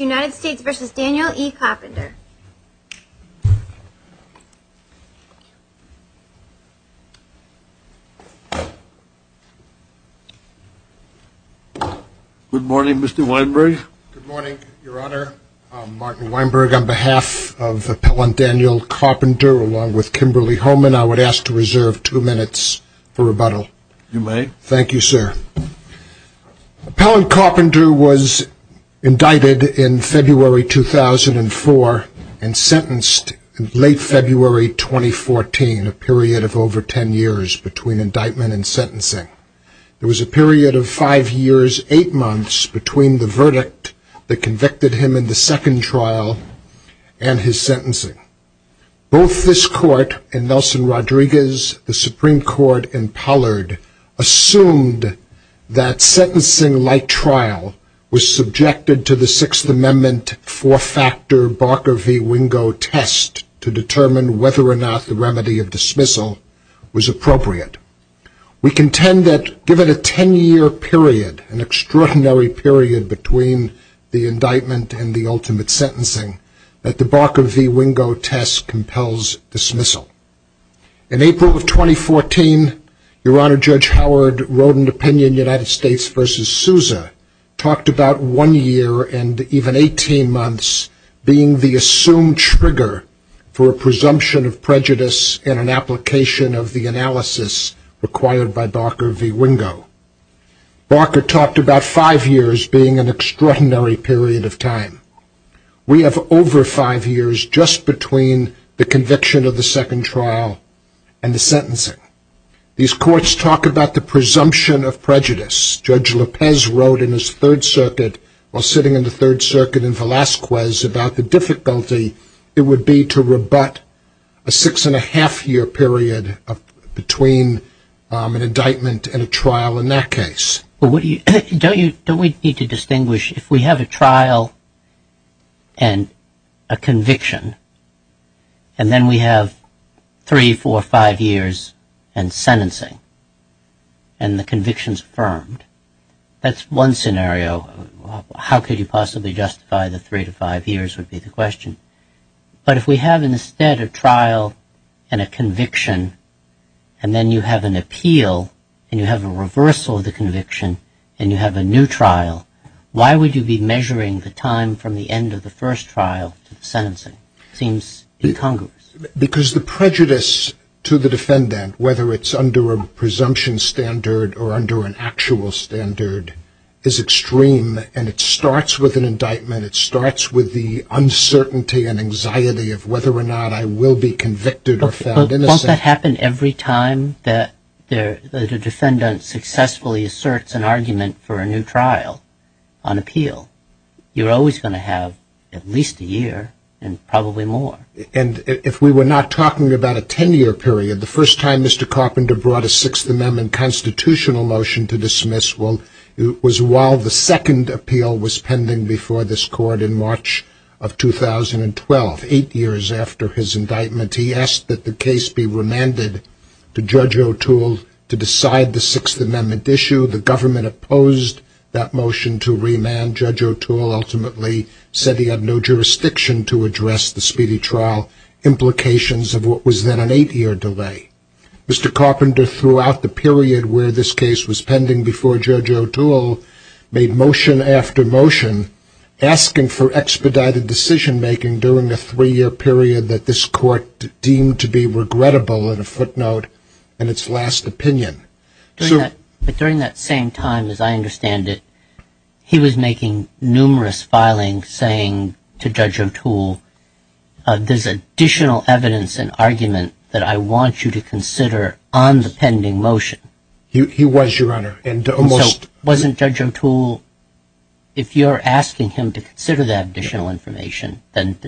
United States v. Daniel E. Carpenter Good morning Mr. Weinberg Good morning your honor, I'm Martin Weinberg on behalf of Appellant Daniel Carpenter along with Kimberly Homan I would ask to reserve two minutes for rebuttal You may Thank you sir Appellant Carpenter was indicted in February 2004 and sentenced in late February 2014 A period of over ten years between indictment and sentencing It was a period of five years, eight months between the verdict that convicted him in the second trial and his sentencing Both this court and Nelson Rodriguez, the Supreme Court, and Pollard assumed that sentencing like trial was subjected to the Sixth Amendment four factor Barker v. Wingo test To determine whether or not the remedy of dismissal was appropriate We contend that given a ten year period, an extraordinary period between the indictment and the ultimate sentencing, that the Barker v. Wingo test compels dismissal In April of 2014, your honor, Judge Howard wrote an opinion United States v. Sousa, talked about one year and even 18 months being the assumed trigger for a presumption of prejudice and an application of the analysis required by Barker v. Wingo Barker talked about five years being an extraordinary period of time We have over five years just between the conviction of the second trial and the sentencing These courts talk about the presumption of prejudice Judge Lopez wrote in his Third Circuit, while sitting in the Third Circuit in Velazquez, about the difficulty it would be to rebut a six and a half year period between an indictment and a trial in that case Don't we need to distinguish if we have a trial and a conviction and then we have three, four, five years and sentencing and the conviction's affirmed That's one scenario. How could you possibly justify the three to five years would be the question But if we have instead a trial and a conviction and then you have an appeal and you have a reversal of the conviction and you have a new trial, why would you be measuring the time from the end of the first trial to the sentencing? It seems incongruous Because the prejudice to the defendant, whether it's under a presumption standard or under an actual standard, is extreme and it starts with an indictment, it starts with the uncertainty and anxiety of whether or not I will be convicted or found innocent But won't that happen every time that a defendant successfully asserts an argument for a new trial on appeal? You're always going to have at least a year and probably more And if we were not talking about a ten year period, the first time Mr. Carpenter brought a Sixth Amendment constitutional motion to dismiss was while the second appeal was pending before this court in March of 2012 Eight years after his indictment he asked that the case be remanded to Judge O'Toole to decide the Sixth Amendment issue The government opposed that motion to remand Judge O'Toole ultimately said he had no jurisdiction to address the speedy trial implications of what was then an eight year delay Mr. Carpenter throughout the period where this case was pending before Judge O'Toole made motion after motion asking for expedited decision making during the three year period that this court deemed to be regrettable in a footnote in its last opinion But during that same time, as I understand it, he was making numerous filings saying to Judge O'Toole, there's additional evidence and argument that I want you to consider on the pending motion He was, Your Honor So wasn't Judge O'Toole, if you're asking him to consider that additional information, then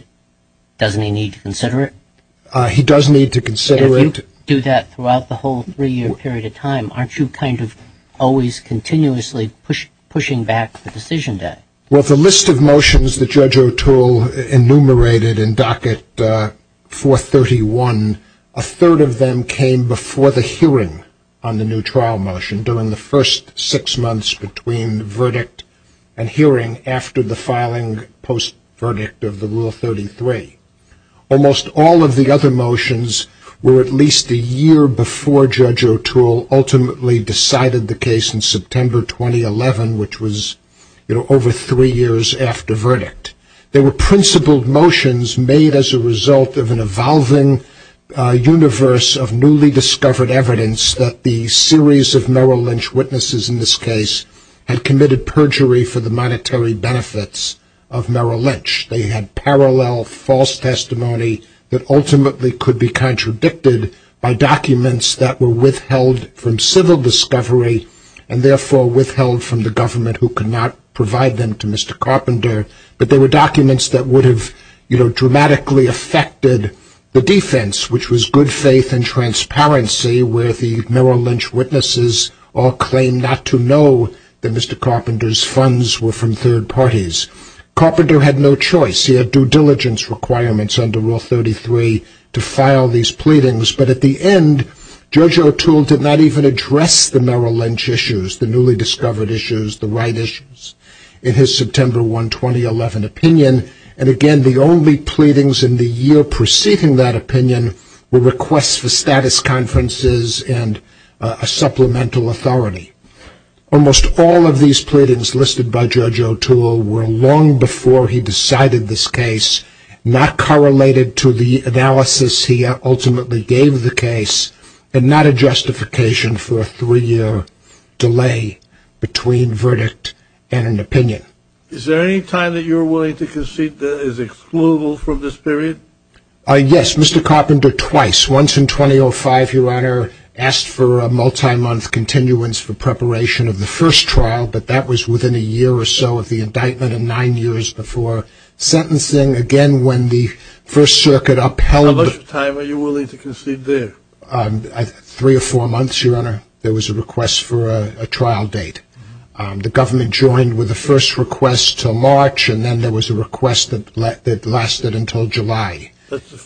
doesn't he need to consider it? He does need to consider it You do that throughout the whole three year period of time, aren't you kind of always continuously pushing back the decision day? Well the list of motions that Judge O'Toole enumerated in docket 431, a third of them came before the hearing on the new trial motion during the first six months between verdict and hearing after the filing post-verdict of the Rule 33 Almost all of the other motions were at least a year before Judge O'Toole ultimately decided the case in September 2011, which was over three years after verdict They were principled motions made as a result of an evolving universe of newly discovered evidence that the series of Merrill Lynch witnesses in this case had committed perjury for the monetary benefits of Merrill Lynch They had parallel false testimony that ultimately could be contradicted by documents that were withheld from civil discovery and therefore withheld from the government who could not provide them to Mr. Carpenter But they were documents that would have dramatically affected the defense, which was good faith and transparency where the Merrill Lynch witnesses all claimed not to know that Mr. Carpenter's funds were from third parties Carpenter had no choice, he had due diligence requirements under Rule 33 to file these pleadings, but at the end Judge O'Toole did not even address the Merrill Lynch issues, the newly discovered issues, the right issues in his September 1, 2011 opinion And again the only pleadings in the year preceding that opinion were requests for status conferences and a supplemental authority Almost all of these pleadings listed by Judge O'Toole were long before he decided this case, not correlated to the analysis he ultimately gave the case, and not a justification for a three year delay between verdict and an opinion Is there any time that you are willing to concede that is excludable from this period? Yes, Mr. Carpenter twice, once in 2005 your honor, asked for a multi-month continuance for preparation of the first trial, but that was within a year or so of the indictment and nine years before sentencing How much time are you willing to concede there? Three or four months your honor, there was a request for a trial date, the government joined with the first request to March and then there was a request that lasted until July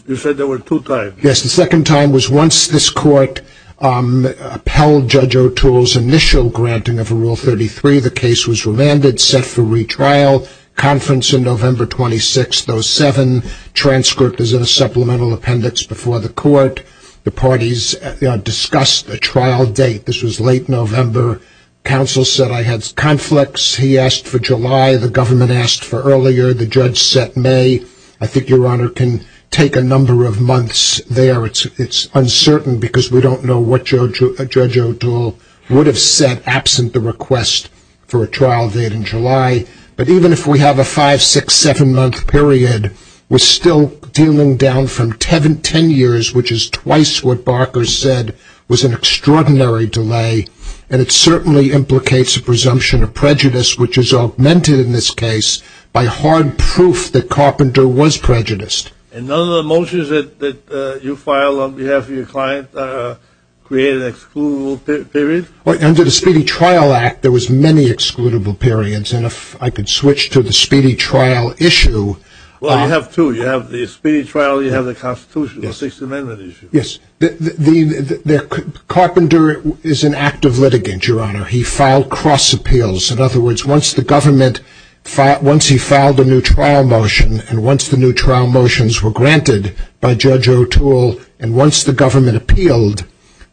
You said there were two times? Yes, the second time was once this court upheld Judge O'Toole's initial granting of Rule 33, the case was remanded, set for retrial, conference in November 26, 2007, transcript is in a supplemental appendix before the court The parties discussed a trial date, this was late November, counsel said I had conflicts, he asked for July, the government asked for earlier, the judge said May, I think your honor can take a number of months there, it's uncertain because we don't know what Judge O'Toole would have said absent the request for a trial date in July But even if we have a 5, 6, 7 month period, we're still dealing down from 10 years, which is twice what Barker said was an extraordinary delay and it certainly implicates a presumption of prejudice which is augmented in this case by hard proof that Carpenter was prejudiced And none of the motions that you filed on behalf of your client created an excludable period? Under the Speedy Trial Act there was many excludable periods and if I could switch to the Speedy Trial issue Well you have two, you have the Speedy Trial, you have the Constitution, the Sixth Amendment issue Carpenter is an active litigant, your honor, he filed cross appeals, in other words, once the government, once he filed a new trial motion and once the new trial motions were granted by Judge O'Toole and once the government appealed,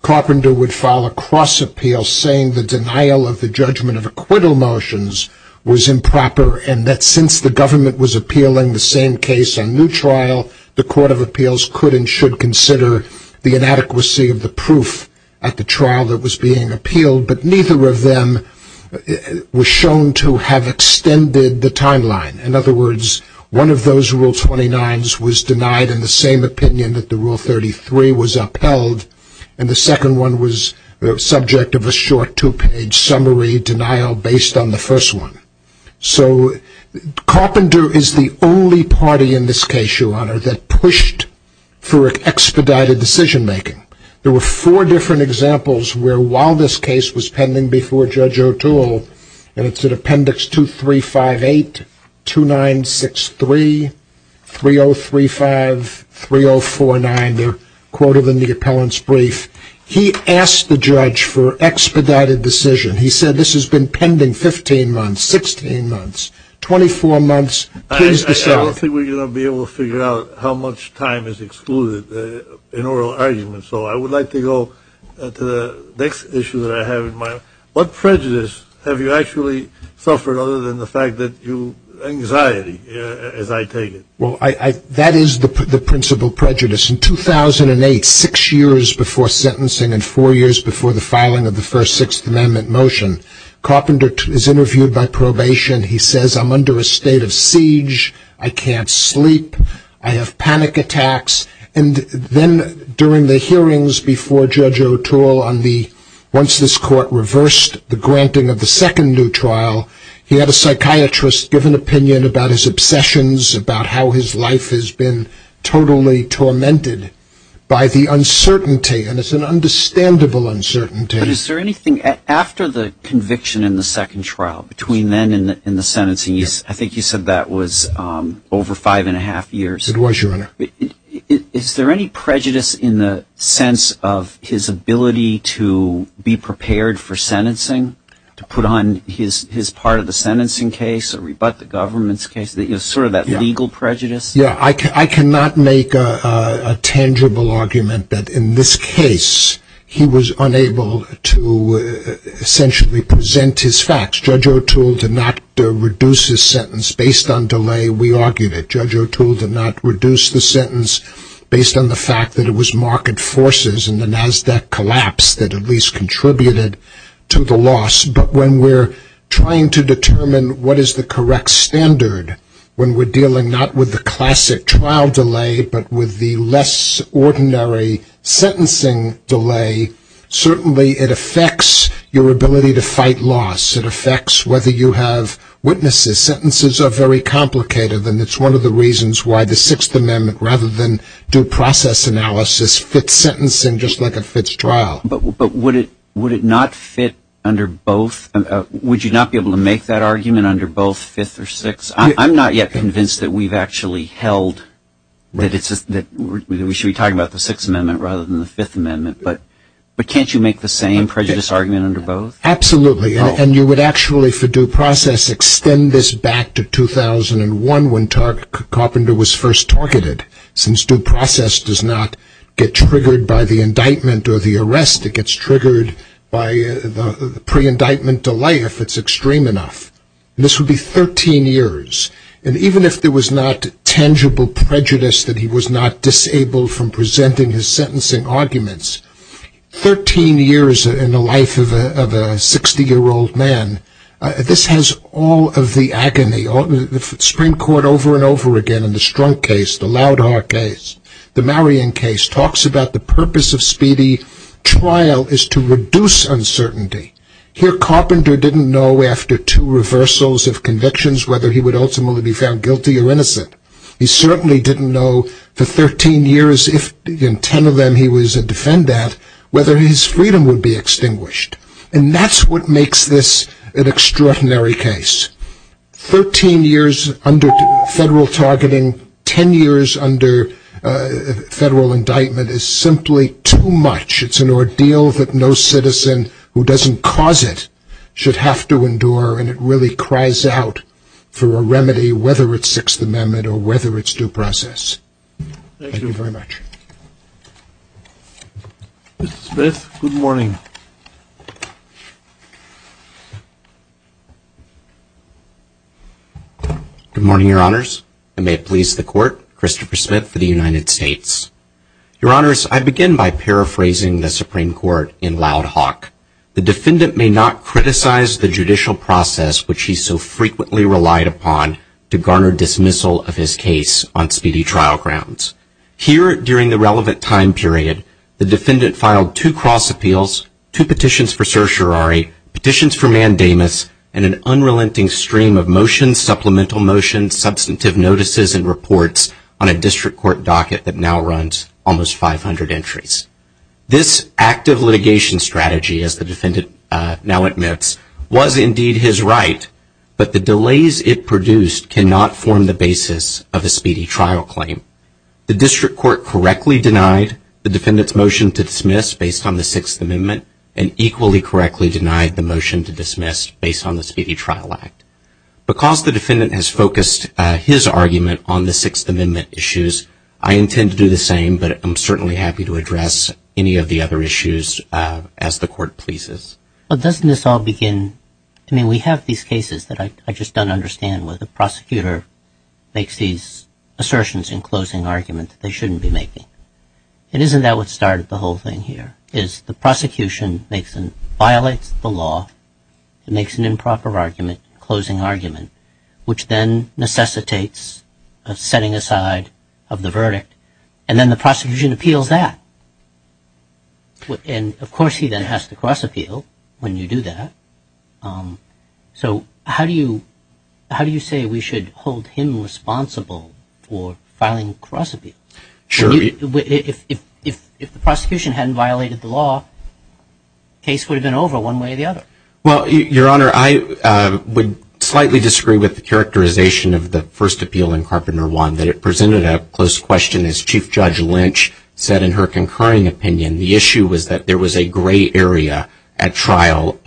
Carpenter would file a cross appeal saying the denial of the judgment of acquittal motions was improper and that since the government was appealing the same case on new trial, the court of appeals could and should consider the inadequacy of the proof at the trial that was being appealed, but neither of them were shown to have extended the timeline, in other words, one of those Rule 29s was denied in the same opinion that the Rule 33 was upheld and the second one was the subject of a short two page summary denial based on the first one So Carpenter is the only party in this case, your honor, that pushed for expedited decision making. There were four different examples where while this case was pending before Judge O'Toole and it's in appendix 2358, 2963, 3035, 3049, they're quoted in the appellant's brief He asked the judge for expedited decision. He said this has been pending 15 months, 16 months, 24 months, please decide. I don't think we're going to be able to figure out how much time is excluded in oral arguments, so I would like to go to the next issue that I have in mind. What prejudice have you actually suffered other than the fact that you, anxiety as I take it? Well, that is the principal prejudice. In 2008, six years before sentencing and four years before the filing of the first Sixth Amendment motion, Carpenter is interviewed by probation. He says I'm under a state of siege, I can't sleep, I have panic attacks, and then during the hearings before Judge O'Toole on the, once this court reversed the granting of the second new trial, he had a psychiatrist give an opinion about his obsessions, about how his life has been totally tormented by the uncertainty, and it's an understandable uncertainty. But is there anything, after the conviction in the second trial, between then and the sentencing, I think you said that was over five and a half years. It was, Your Honor. Is there any prejudice in the sense of his ability to be prepared for sentencing, to put on his part of the sentencing case or rebut the government's case, sort of that legal prejudice? Yeah, I cannot make a tangible argument that in this case he was unable to essentially present his facts. Judge O'Toole did not reduce his sentence based on delay, we argued it. Judge O'Toole did not reduce the sentence based on the fact that it was market forces and the NASDAQ collapse that at least contributed to the loss. But when we're trying to determine what is the correct standard, when we're dealing not with the classic trial delay, but with the less ordinary sentencing delay, certainly it affects your ability to fight loss. It affects whether you have witnesses. Sentences are very complicated, and it's one of the reasons why the Sixth Amendment, rather than due process analysis, fits sentencing just like it fits trial. But would it not fit under both? Would you not be able to make that argument under both Fifth or Sixth? I'm not yet convinced that we've actually held that we should be talking about the Sixth Amendment rather than the Fifth Amendment, but can't you make the same prejudice argument under both? Absolutely, and you would actually, for due process, extend this back to 2001 when Carpenter was first targeted. Since due process does not get triggered by the indictment or the arrest, it gets triggered by the pre-indictment delay if it's extreme enough. This would be 13 years, and even if there was not tangible prejudice that he was not disabled from presenting his sentencing arguments, 13 years in the life of a 60-year-old man, this has all of the agony. The Supreme Court over and over again in the Strunk case, the Loud Heart case, the Marion case, talks about the purpose of speedy trial is to reduce uncertainty. Here, Carpenter didn't know after two reversals of convictions whether he would ultimately be found guilty or innocent. He certainly didn't know for 13 years, if in 10 of them he was a defendant, whether his freedom would be extinguished, and that's what makes this an extraordinary case. 13 years under federal targeting, 10 years under federal indictment is simply too much. It's an ordeal that no citizen who doesn't cause it should have to endure, and it really cries out for a remedy, whether it's Sixth Amendment or whether it's due process. Thank you very much. Mr. Smith, good morning. Good morning, Your Honors, and may it please the Court, Christopher Smith for the United States. Your Honors, I begin by paraphrasing the Supreme Court in Loud Hawk. The defendant may not criticize the judicial process which he so frequently relied upon to garner dismissal of his case on speedy trial grounds. Here, during the relevant time period, the defendant filed two cross appeals, two petitions for certiorari, petitions for mandamus, and an unrelenting stream of motions, supplemental motions, substantive notices, and reports on a district court docket that now runs almost 500 entries. This active litigation strategy, as the defendant now admits, was indeed his right, but the delays it produced cannot form the basis of a speedy trial claim. The district court correctly denied the defendant's motion to dismiss based on the Sixth Amendment and equally correctly denied the motion to dismiss based on the Speedy Trial Act. Because the defendant has focused his argument on the Sixth Amendment issues, I intend to do the same, but I'm certainly happy to address any of the other issues as the Court pleases. But doesn't this all begin, I mean, we have these cases that I just don't understand where the prosecutor makes these assertions in closing argument that they shouldn't be making. And isn't that what started the whole thing here, is the prosecution violates the law, makes an improper closing argument, which then necessitates a setting aside of the verdict, and then the prosecution appeals that. And of course he then has to cross appeal when you do that. So how do you say we should hold him responsible for filing a cross appeal? Sure. If the prosecution hadn't violated the law, the case would have been over one way or the other. Well, Your Honor, I would slightly disagree with the characterization of the first appeal in Carpenter 1, that it presented a close question. As Chief Judge Lynch said in her concurring opinion, the issue was that there was a gray area at trial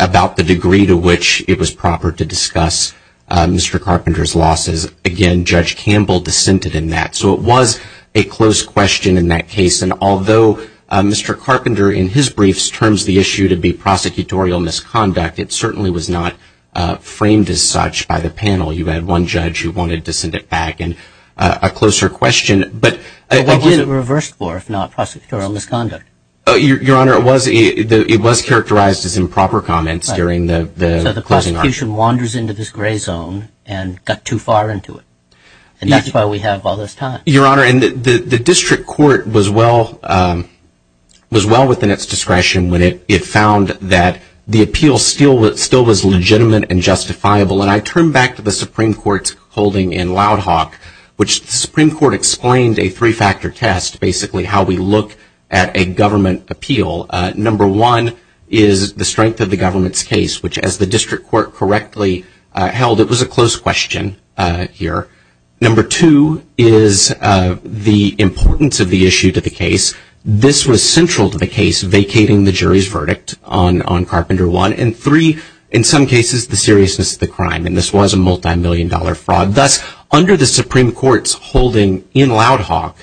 about the degree to which it was proper to discuss Mr. Carpenter's losses. Again, Judge Campbell dissented in that. So it was a close question in that case. And although Mr. Carpenter in his briefs terms the issue to be prosecutorial misconduct, it certainly was not framed as such by the panel. You had one judge who wanted to send it back, and a closer question. But what was it reversed for if not prosecutorial misconduct? Your Honor, it was characterized as improper comments during the closing argument. The prosecution wanders into this gray zone and got too far into it. And that's why we have all this time. Your Honor, the district court was well within its discretion when it found that the appeal still was legitimate and justifiable. And I turn back to the Supreme Court's holding in Loud Hawk, which the Supreme Court explained a three-factor test, basically how we look at a government appeal. Number one is the strength of the government's case, which as the district court correctly held, it was a close question here. Number two is the importance of the issue to the case. This was central to the case vacating the jury's verdict on Carpenter 1. And three, in some cases, the seriousness of the crime. And this was a multimillion-dollar fraud. Thus, under the Supreme Court's holding in Loud Hawk,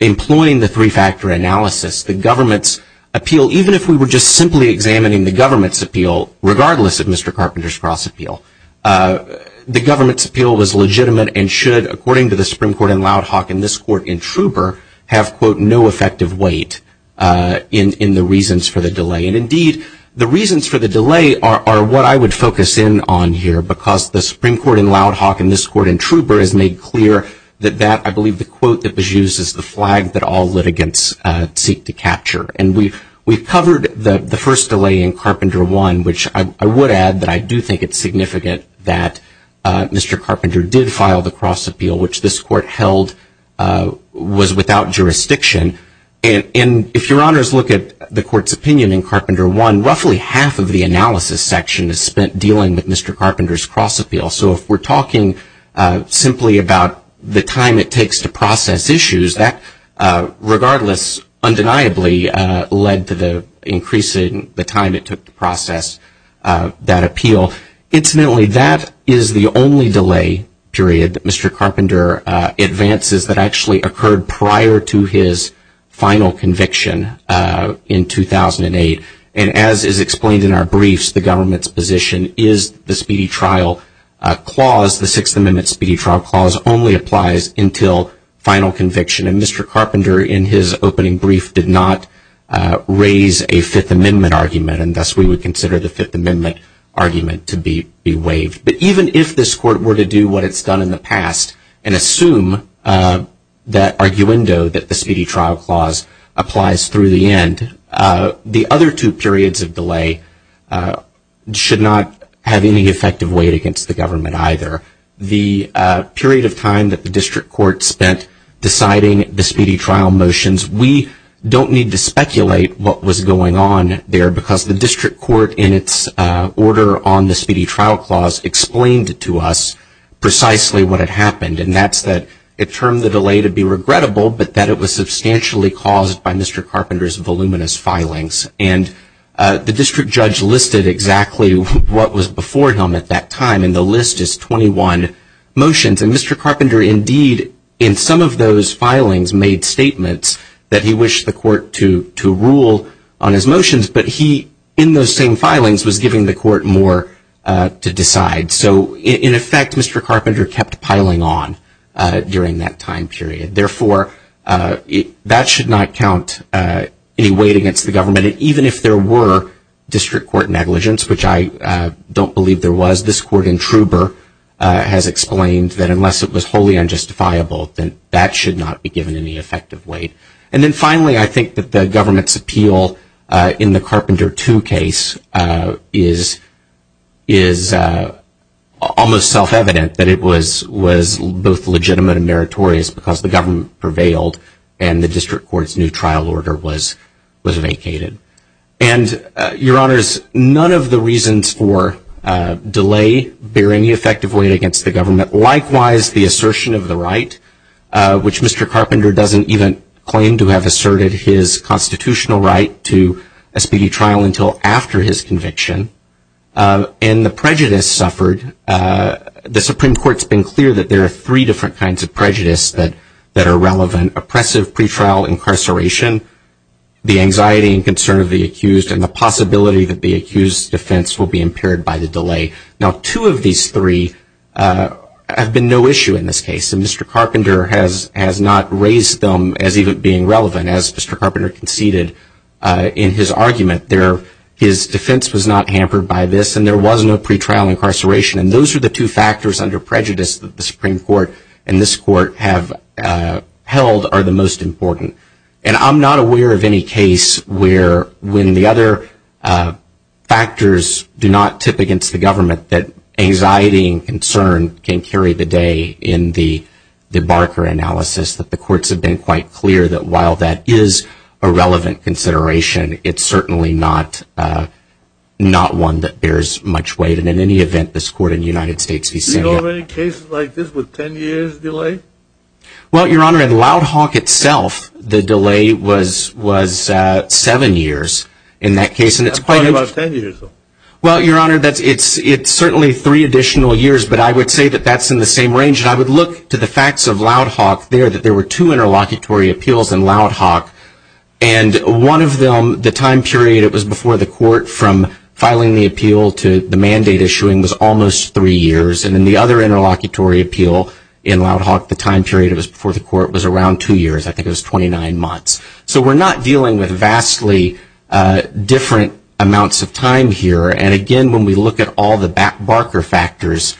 employing the three-factor analysis, the government's appeal, even if we were just simply examining the government's appeal, regardless of Mr. Carpenter's cross-appeal, the government's appeal was legitimate and should, according to the Supreme Court in Loud Hawk and this court in Trouber, have, quote, no effective weight in the reasons for the delay. And indeed, the reasons for the delay are what I would focus in on here, because the Supreme Court in Loud Hawk and this court in Trouber has made clear that that, I believe, the quote that was used is the flag that all litigants seek to capture. And we've covered the first delay in Carpenter 1, which I would add that I do think it's significant that Mr. Carpenter did file the cross-appeal, which this court held was without jurisdiction. And if your honors look at the court's opinion in Carpenter 1, roughly half of the analysis section is spent dealing with Mr. Carpenter's cross-appeal. So if we're talking simply about the time it takes to process issues, that, regardless, undeniably, led to the increase in the time it took to process that appeal. Incidentally, that is the only delay period that Mr. Carpenter advances that actually occurred prior to his final conviction in 2008. And as is explained in our briefs, the government's position is the Speedy Trial Clause, the Sixth Amendment Speedy Trial Clause only applies until final conviction. And Mr. Carpenter, in his opening brief, did not raise a Fifth Amendment argument, and thus we would consider the Fifth Amendment argument to be waived. But even if this court were to do what it's done in the past and assume that arguendo that the Speedy Trial Clause applies through the end, the other two periods of delay should not have any effective weight against the government either. The period of time that the district court spent deciding the Speedy Trial motions, we don't need to speculate what was going on there because the district court, in its order on the Speedy Trial Clause, explained to us precisely what had happened, and that's that it termed the delay to be regrettable, but that it was substantially caused by Mr. Carpenter's voluminous filings. And the district judge listed exactly what was before him at that time, and the list is 21 motions. And Mr. Carpenter, indeed, in some of those filings, made statements that he wished the court to rule on his motions, but he, in those same filings, was giving the court more to decide. So, in effect, Mr. Carpenter kept piling on during that time period. Therefore, that should not count any weight against the government, and even if there were district court negligence, which I don't believe there was, because this court in Trouber has explained that unless it was wholly unjustifiable, then that should not be given any effective weight. And then, finally, I think that the government's appeal in the Carpenter 2 case is almost self-evident, that it was both legitimate and meritorious because the government prevailed and the district court's new trial order was vacated. And, Your Honors, none of the reasons for delay bear any effective weight against the government. Likewise, the assertion of the right, which Mr. Carpenter doesn't even claim to have asserted his constitutional right to a speedy trial until after his conviction, and the prejudice suffered. The Supreme Court's been clear that there are three different kinds of prejudice that are relevant. There's been oppressive pretrial incarceration, the anxiety and concern of the accused, and the possibility that the accused's defense will be impaired by the delay. Now, two of these three have been no issue in this case, and Mr. Carpenter has not raised them as even being relevant. As Mr. Carpenter conceded in his argument, his defense was not hampered by this, and there was no pretrial incarceration. And those are the two factors under prejudice that the Supreme Court and this court have held are the most important. And I'm not aware of any case where, when the other factors do not tip against the government, that anxiety and concern can carry the day in the Barker analysis, that the courts have been quite clear that while that is a relevant consideration, it's certainly not one that bears much weight. Do you know of any cases like this with ten years delay? Well, Your Honor, in Loud Hawk itself, the delay was seven years in that case. That's probably about ten years, though. Well, Your Honor, it's certainly three additional years, but I would say that that's in the same range. And I would look to the facts of Loud Hawk there, that there were two interlocutory appeals in Loud Hawk, and one of them, the time period it was before the court from filing the appeal to the mandate issuing was almost three years. And in the other interlocutory appeal in Loud Hawk, the time period it was before the court was around two years. I think it was 29 months. So we're not dealing with vastly different amounts of time here. And, again, when we look at all the Barker factors,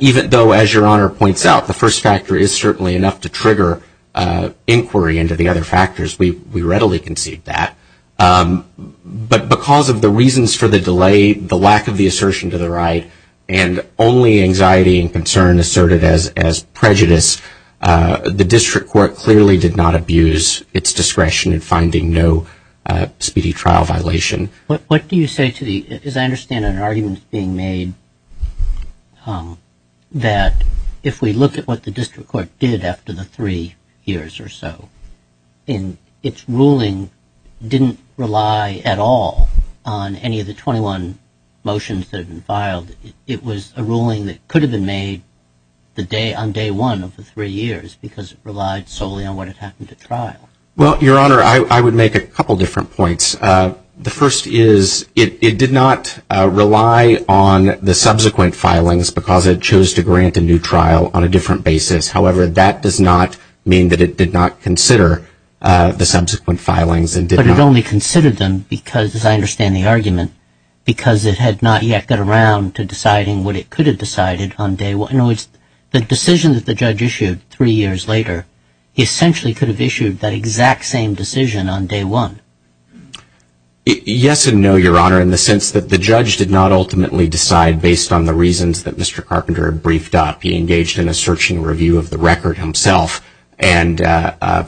even though, as Your Honor points out, the first factor is certainly enough to trigger inquiry into the other factors, we readily concede that. But because of the reasons for the delay, the lack of the assertion to the right, and only anxiety and concern asserted as prejudice, the district court clearly did not abuse its discretion in finding no speedy trial violation. What do you say to the – as I understand it, an argument is being made that if we look at what the district court did after the three years or so, and its ruling didn't rely at all on any of the 21 motions that had been filed, it was a ruling that could have been made on day one of the three years because it relied solely on what had happened at trial. Well, Your Honor, I would make a couple different points. The first is it did not rely on the subsequent filings because it chose to grant a new trial on a different basis. However, that does not mean that it did not consider the subsequent filings and did not – But it only considered them because, as I understand the argument, because it had not yet got around to deciding what it could have decided on day one. The decision that the judge issued three years later, he essentially could have issued that exact same decision on day one. Yes and no, Your Honor, in the sense that the judge did not ultimately decide based on the reasons that Mr. Carpenter had briefed up. He engaged in a searching review of the record himself and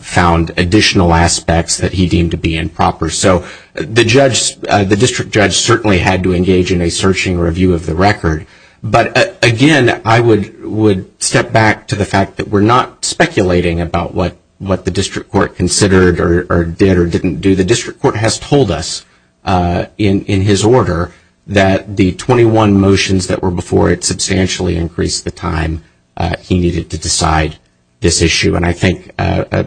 found additional aspects that he deemed to be improper. So the district judge certainly had to engage in a searching review of the record. But, again, I would step back to the fact that we're not speculating about what the district court considered or did or didn't do. The district court has told us in his order that the 21 motions that were before it substantially increased the time he needed to decide this issue. And I think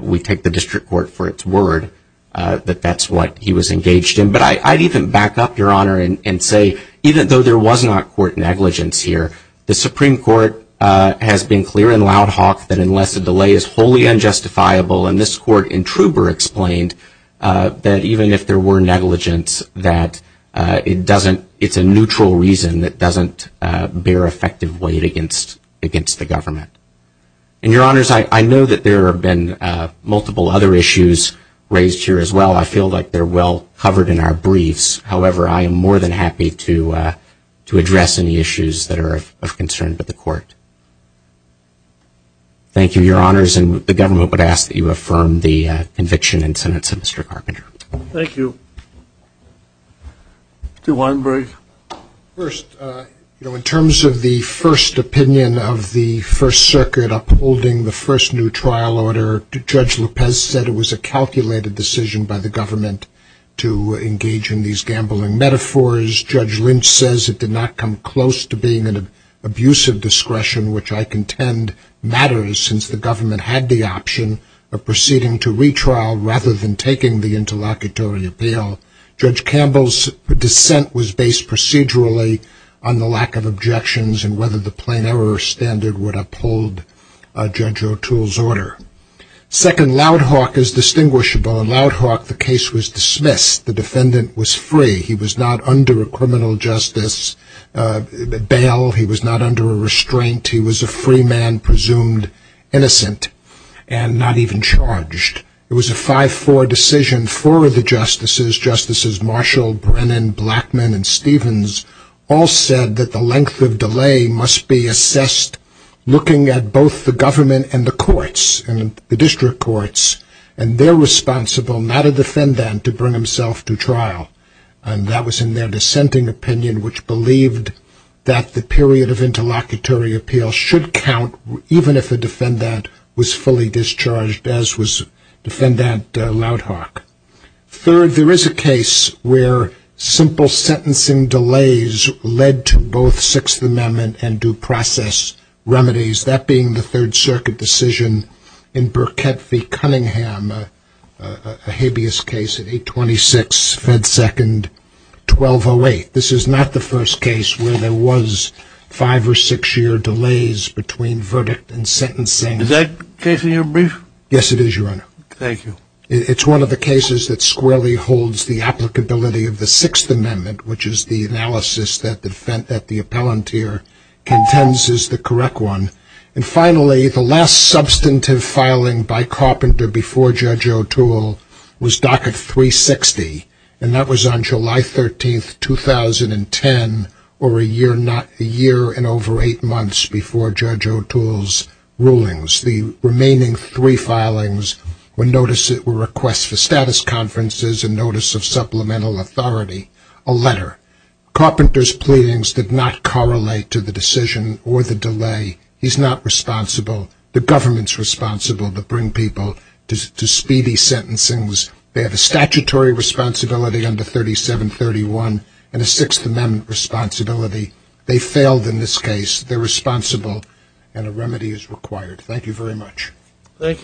we take the district court for its word that that's what he was engaged in. But I'd even back up, Your Honor, and say even though there was not court negligence here, the Supreme Court has been clear and loud hawk that unless a delay is wholly unjustifiable, and this court in Trouber explained that even if there were negligence that it doesn't, it's a neutral reason that doesn't bear effective weight against the government. And, Your Honors, I know that there have been multiple other issues raised here as well. I feel like they're well covered in our briefs. However, I am more than happy to address any issues that are of concern to the court. Thank you, Your Honors. And the government would ask that you affirm the conviction and sentence of Mr. Carpenter. Thank you. Mr. Weinberg. First, in terms of the first opinion of the First Circuit upholding the first new trial order, Judge Lopez said it was a calculated decision by the government to engage in these gambling metaphors. Judge Lynch says it did not come close to being an abusive discretion, which I contend matters since the government had the option of proceeding to retrial rather than taking the interlocutory appeal. Judge Campbell's dissent was based procedurally on the lack of objections and whether the plain error standard would uphold Judge O'Toole's order. Second, Loudhawk is distinguishable. In Loudhawk, the case was dismissed. The defendant was free. He was not under a criminal justice bail. He was not under a restraint. He was a free man presumed innocent and not even charged. It was a 5-4 decision. Four of the justices, Justices Marshall, Brennan, Blackmun, and Stevens, all said that the length of delay must be assessed looking at both the government and the courts, the district courts, and they're responsible, not a defendant, to bring himself to trial. And that was in their dissenting opinion, which believed that the period of interlocutory appeal should count even if a defendant was fully discharged, as was Defendant Loudhawk. Third, there is a case where simple sentencing delays led to both Sixth Amendment and due process remedies, that being the Third Circuit decision in Burkett v. Cunningham, a habeas case at 826 Fed Second 1208. This is not the first case where there was five- or six-year delays between verdict and sentencing. Is that case in your brief? Yes, it is, Your Honor. Thank you. It's one of the cases that squarely holds the applicability of the Sixth Amendment, which is the analysis that the appellant here contends is the correct one. And finally, the last substantive filing by Carpenter before Judge O'Toole was Docket 360, and that was on July 13, 2010, or a year and over eight months before Judge O'Toole's rulings. The remaining three filings were requests for status conferences and notice of supplemental authority, a letter. Carpenter's pleadings did not correlate to the decision or the delay. He's not responsible. The government's responsible to bring people to speedy sentencing. They have a statutory responsibility under 3731 and a Sixth Amendment responsibility. They failed in this case. They're responsible, and a remedy is required. Thank you very much. Thank you.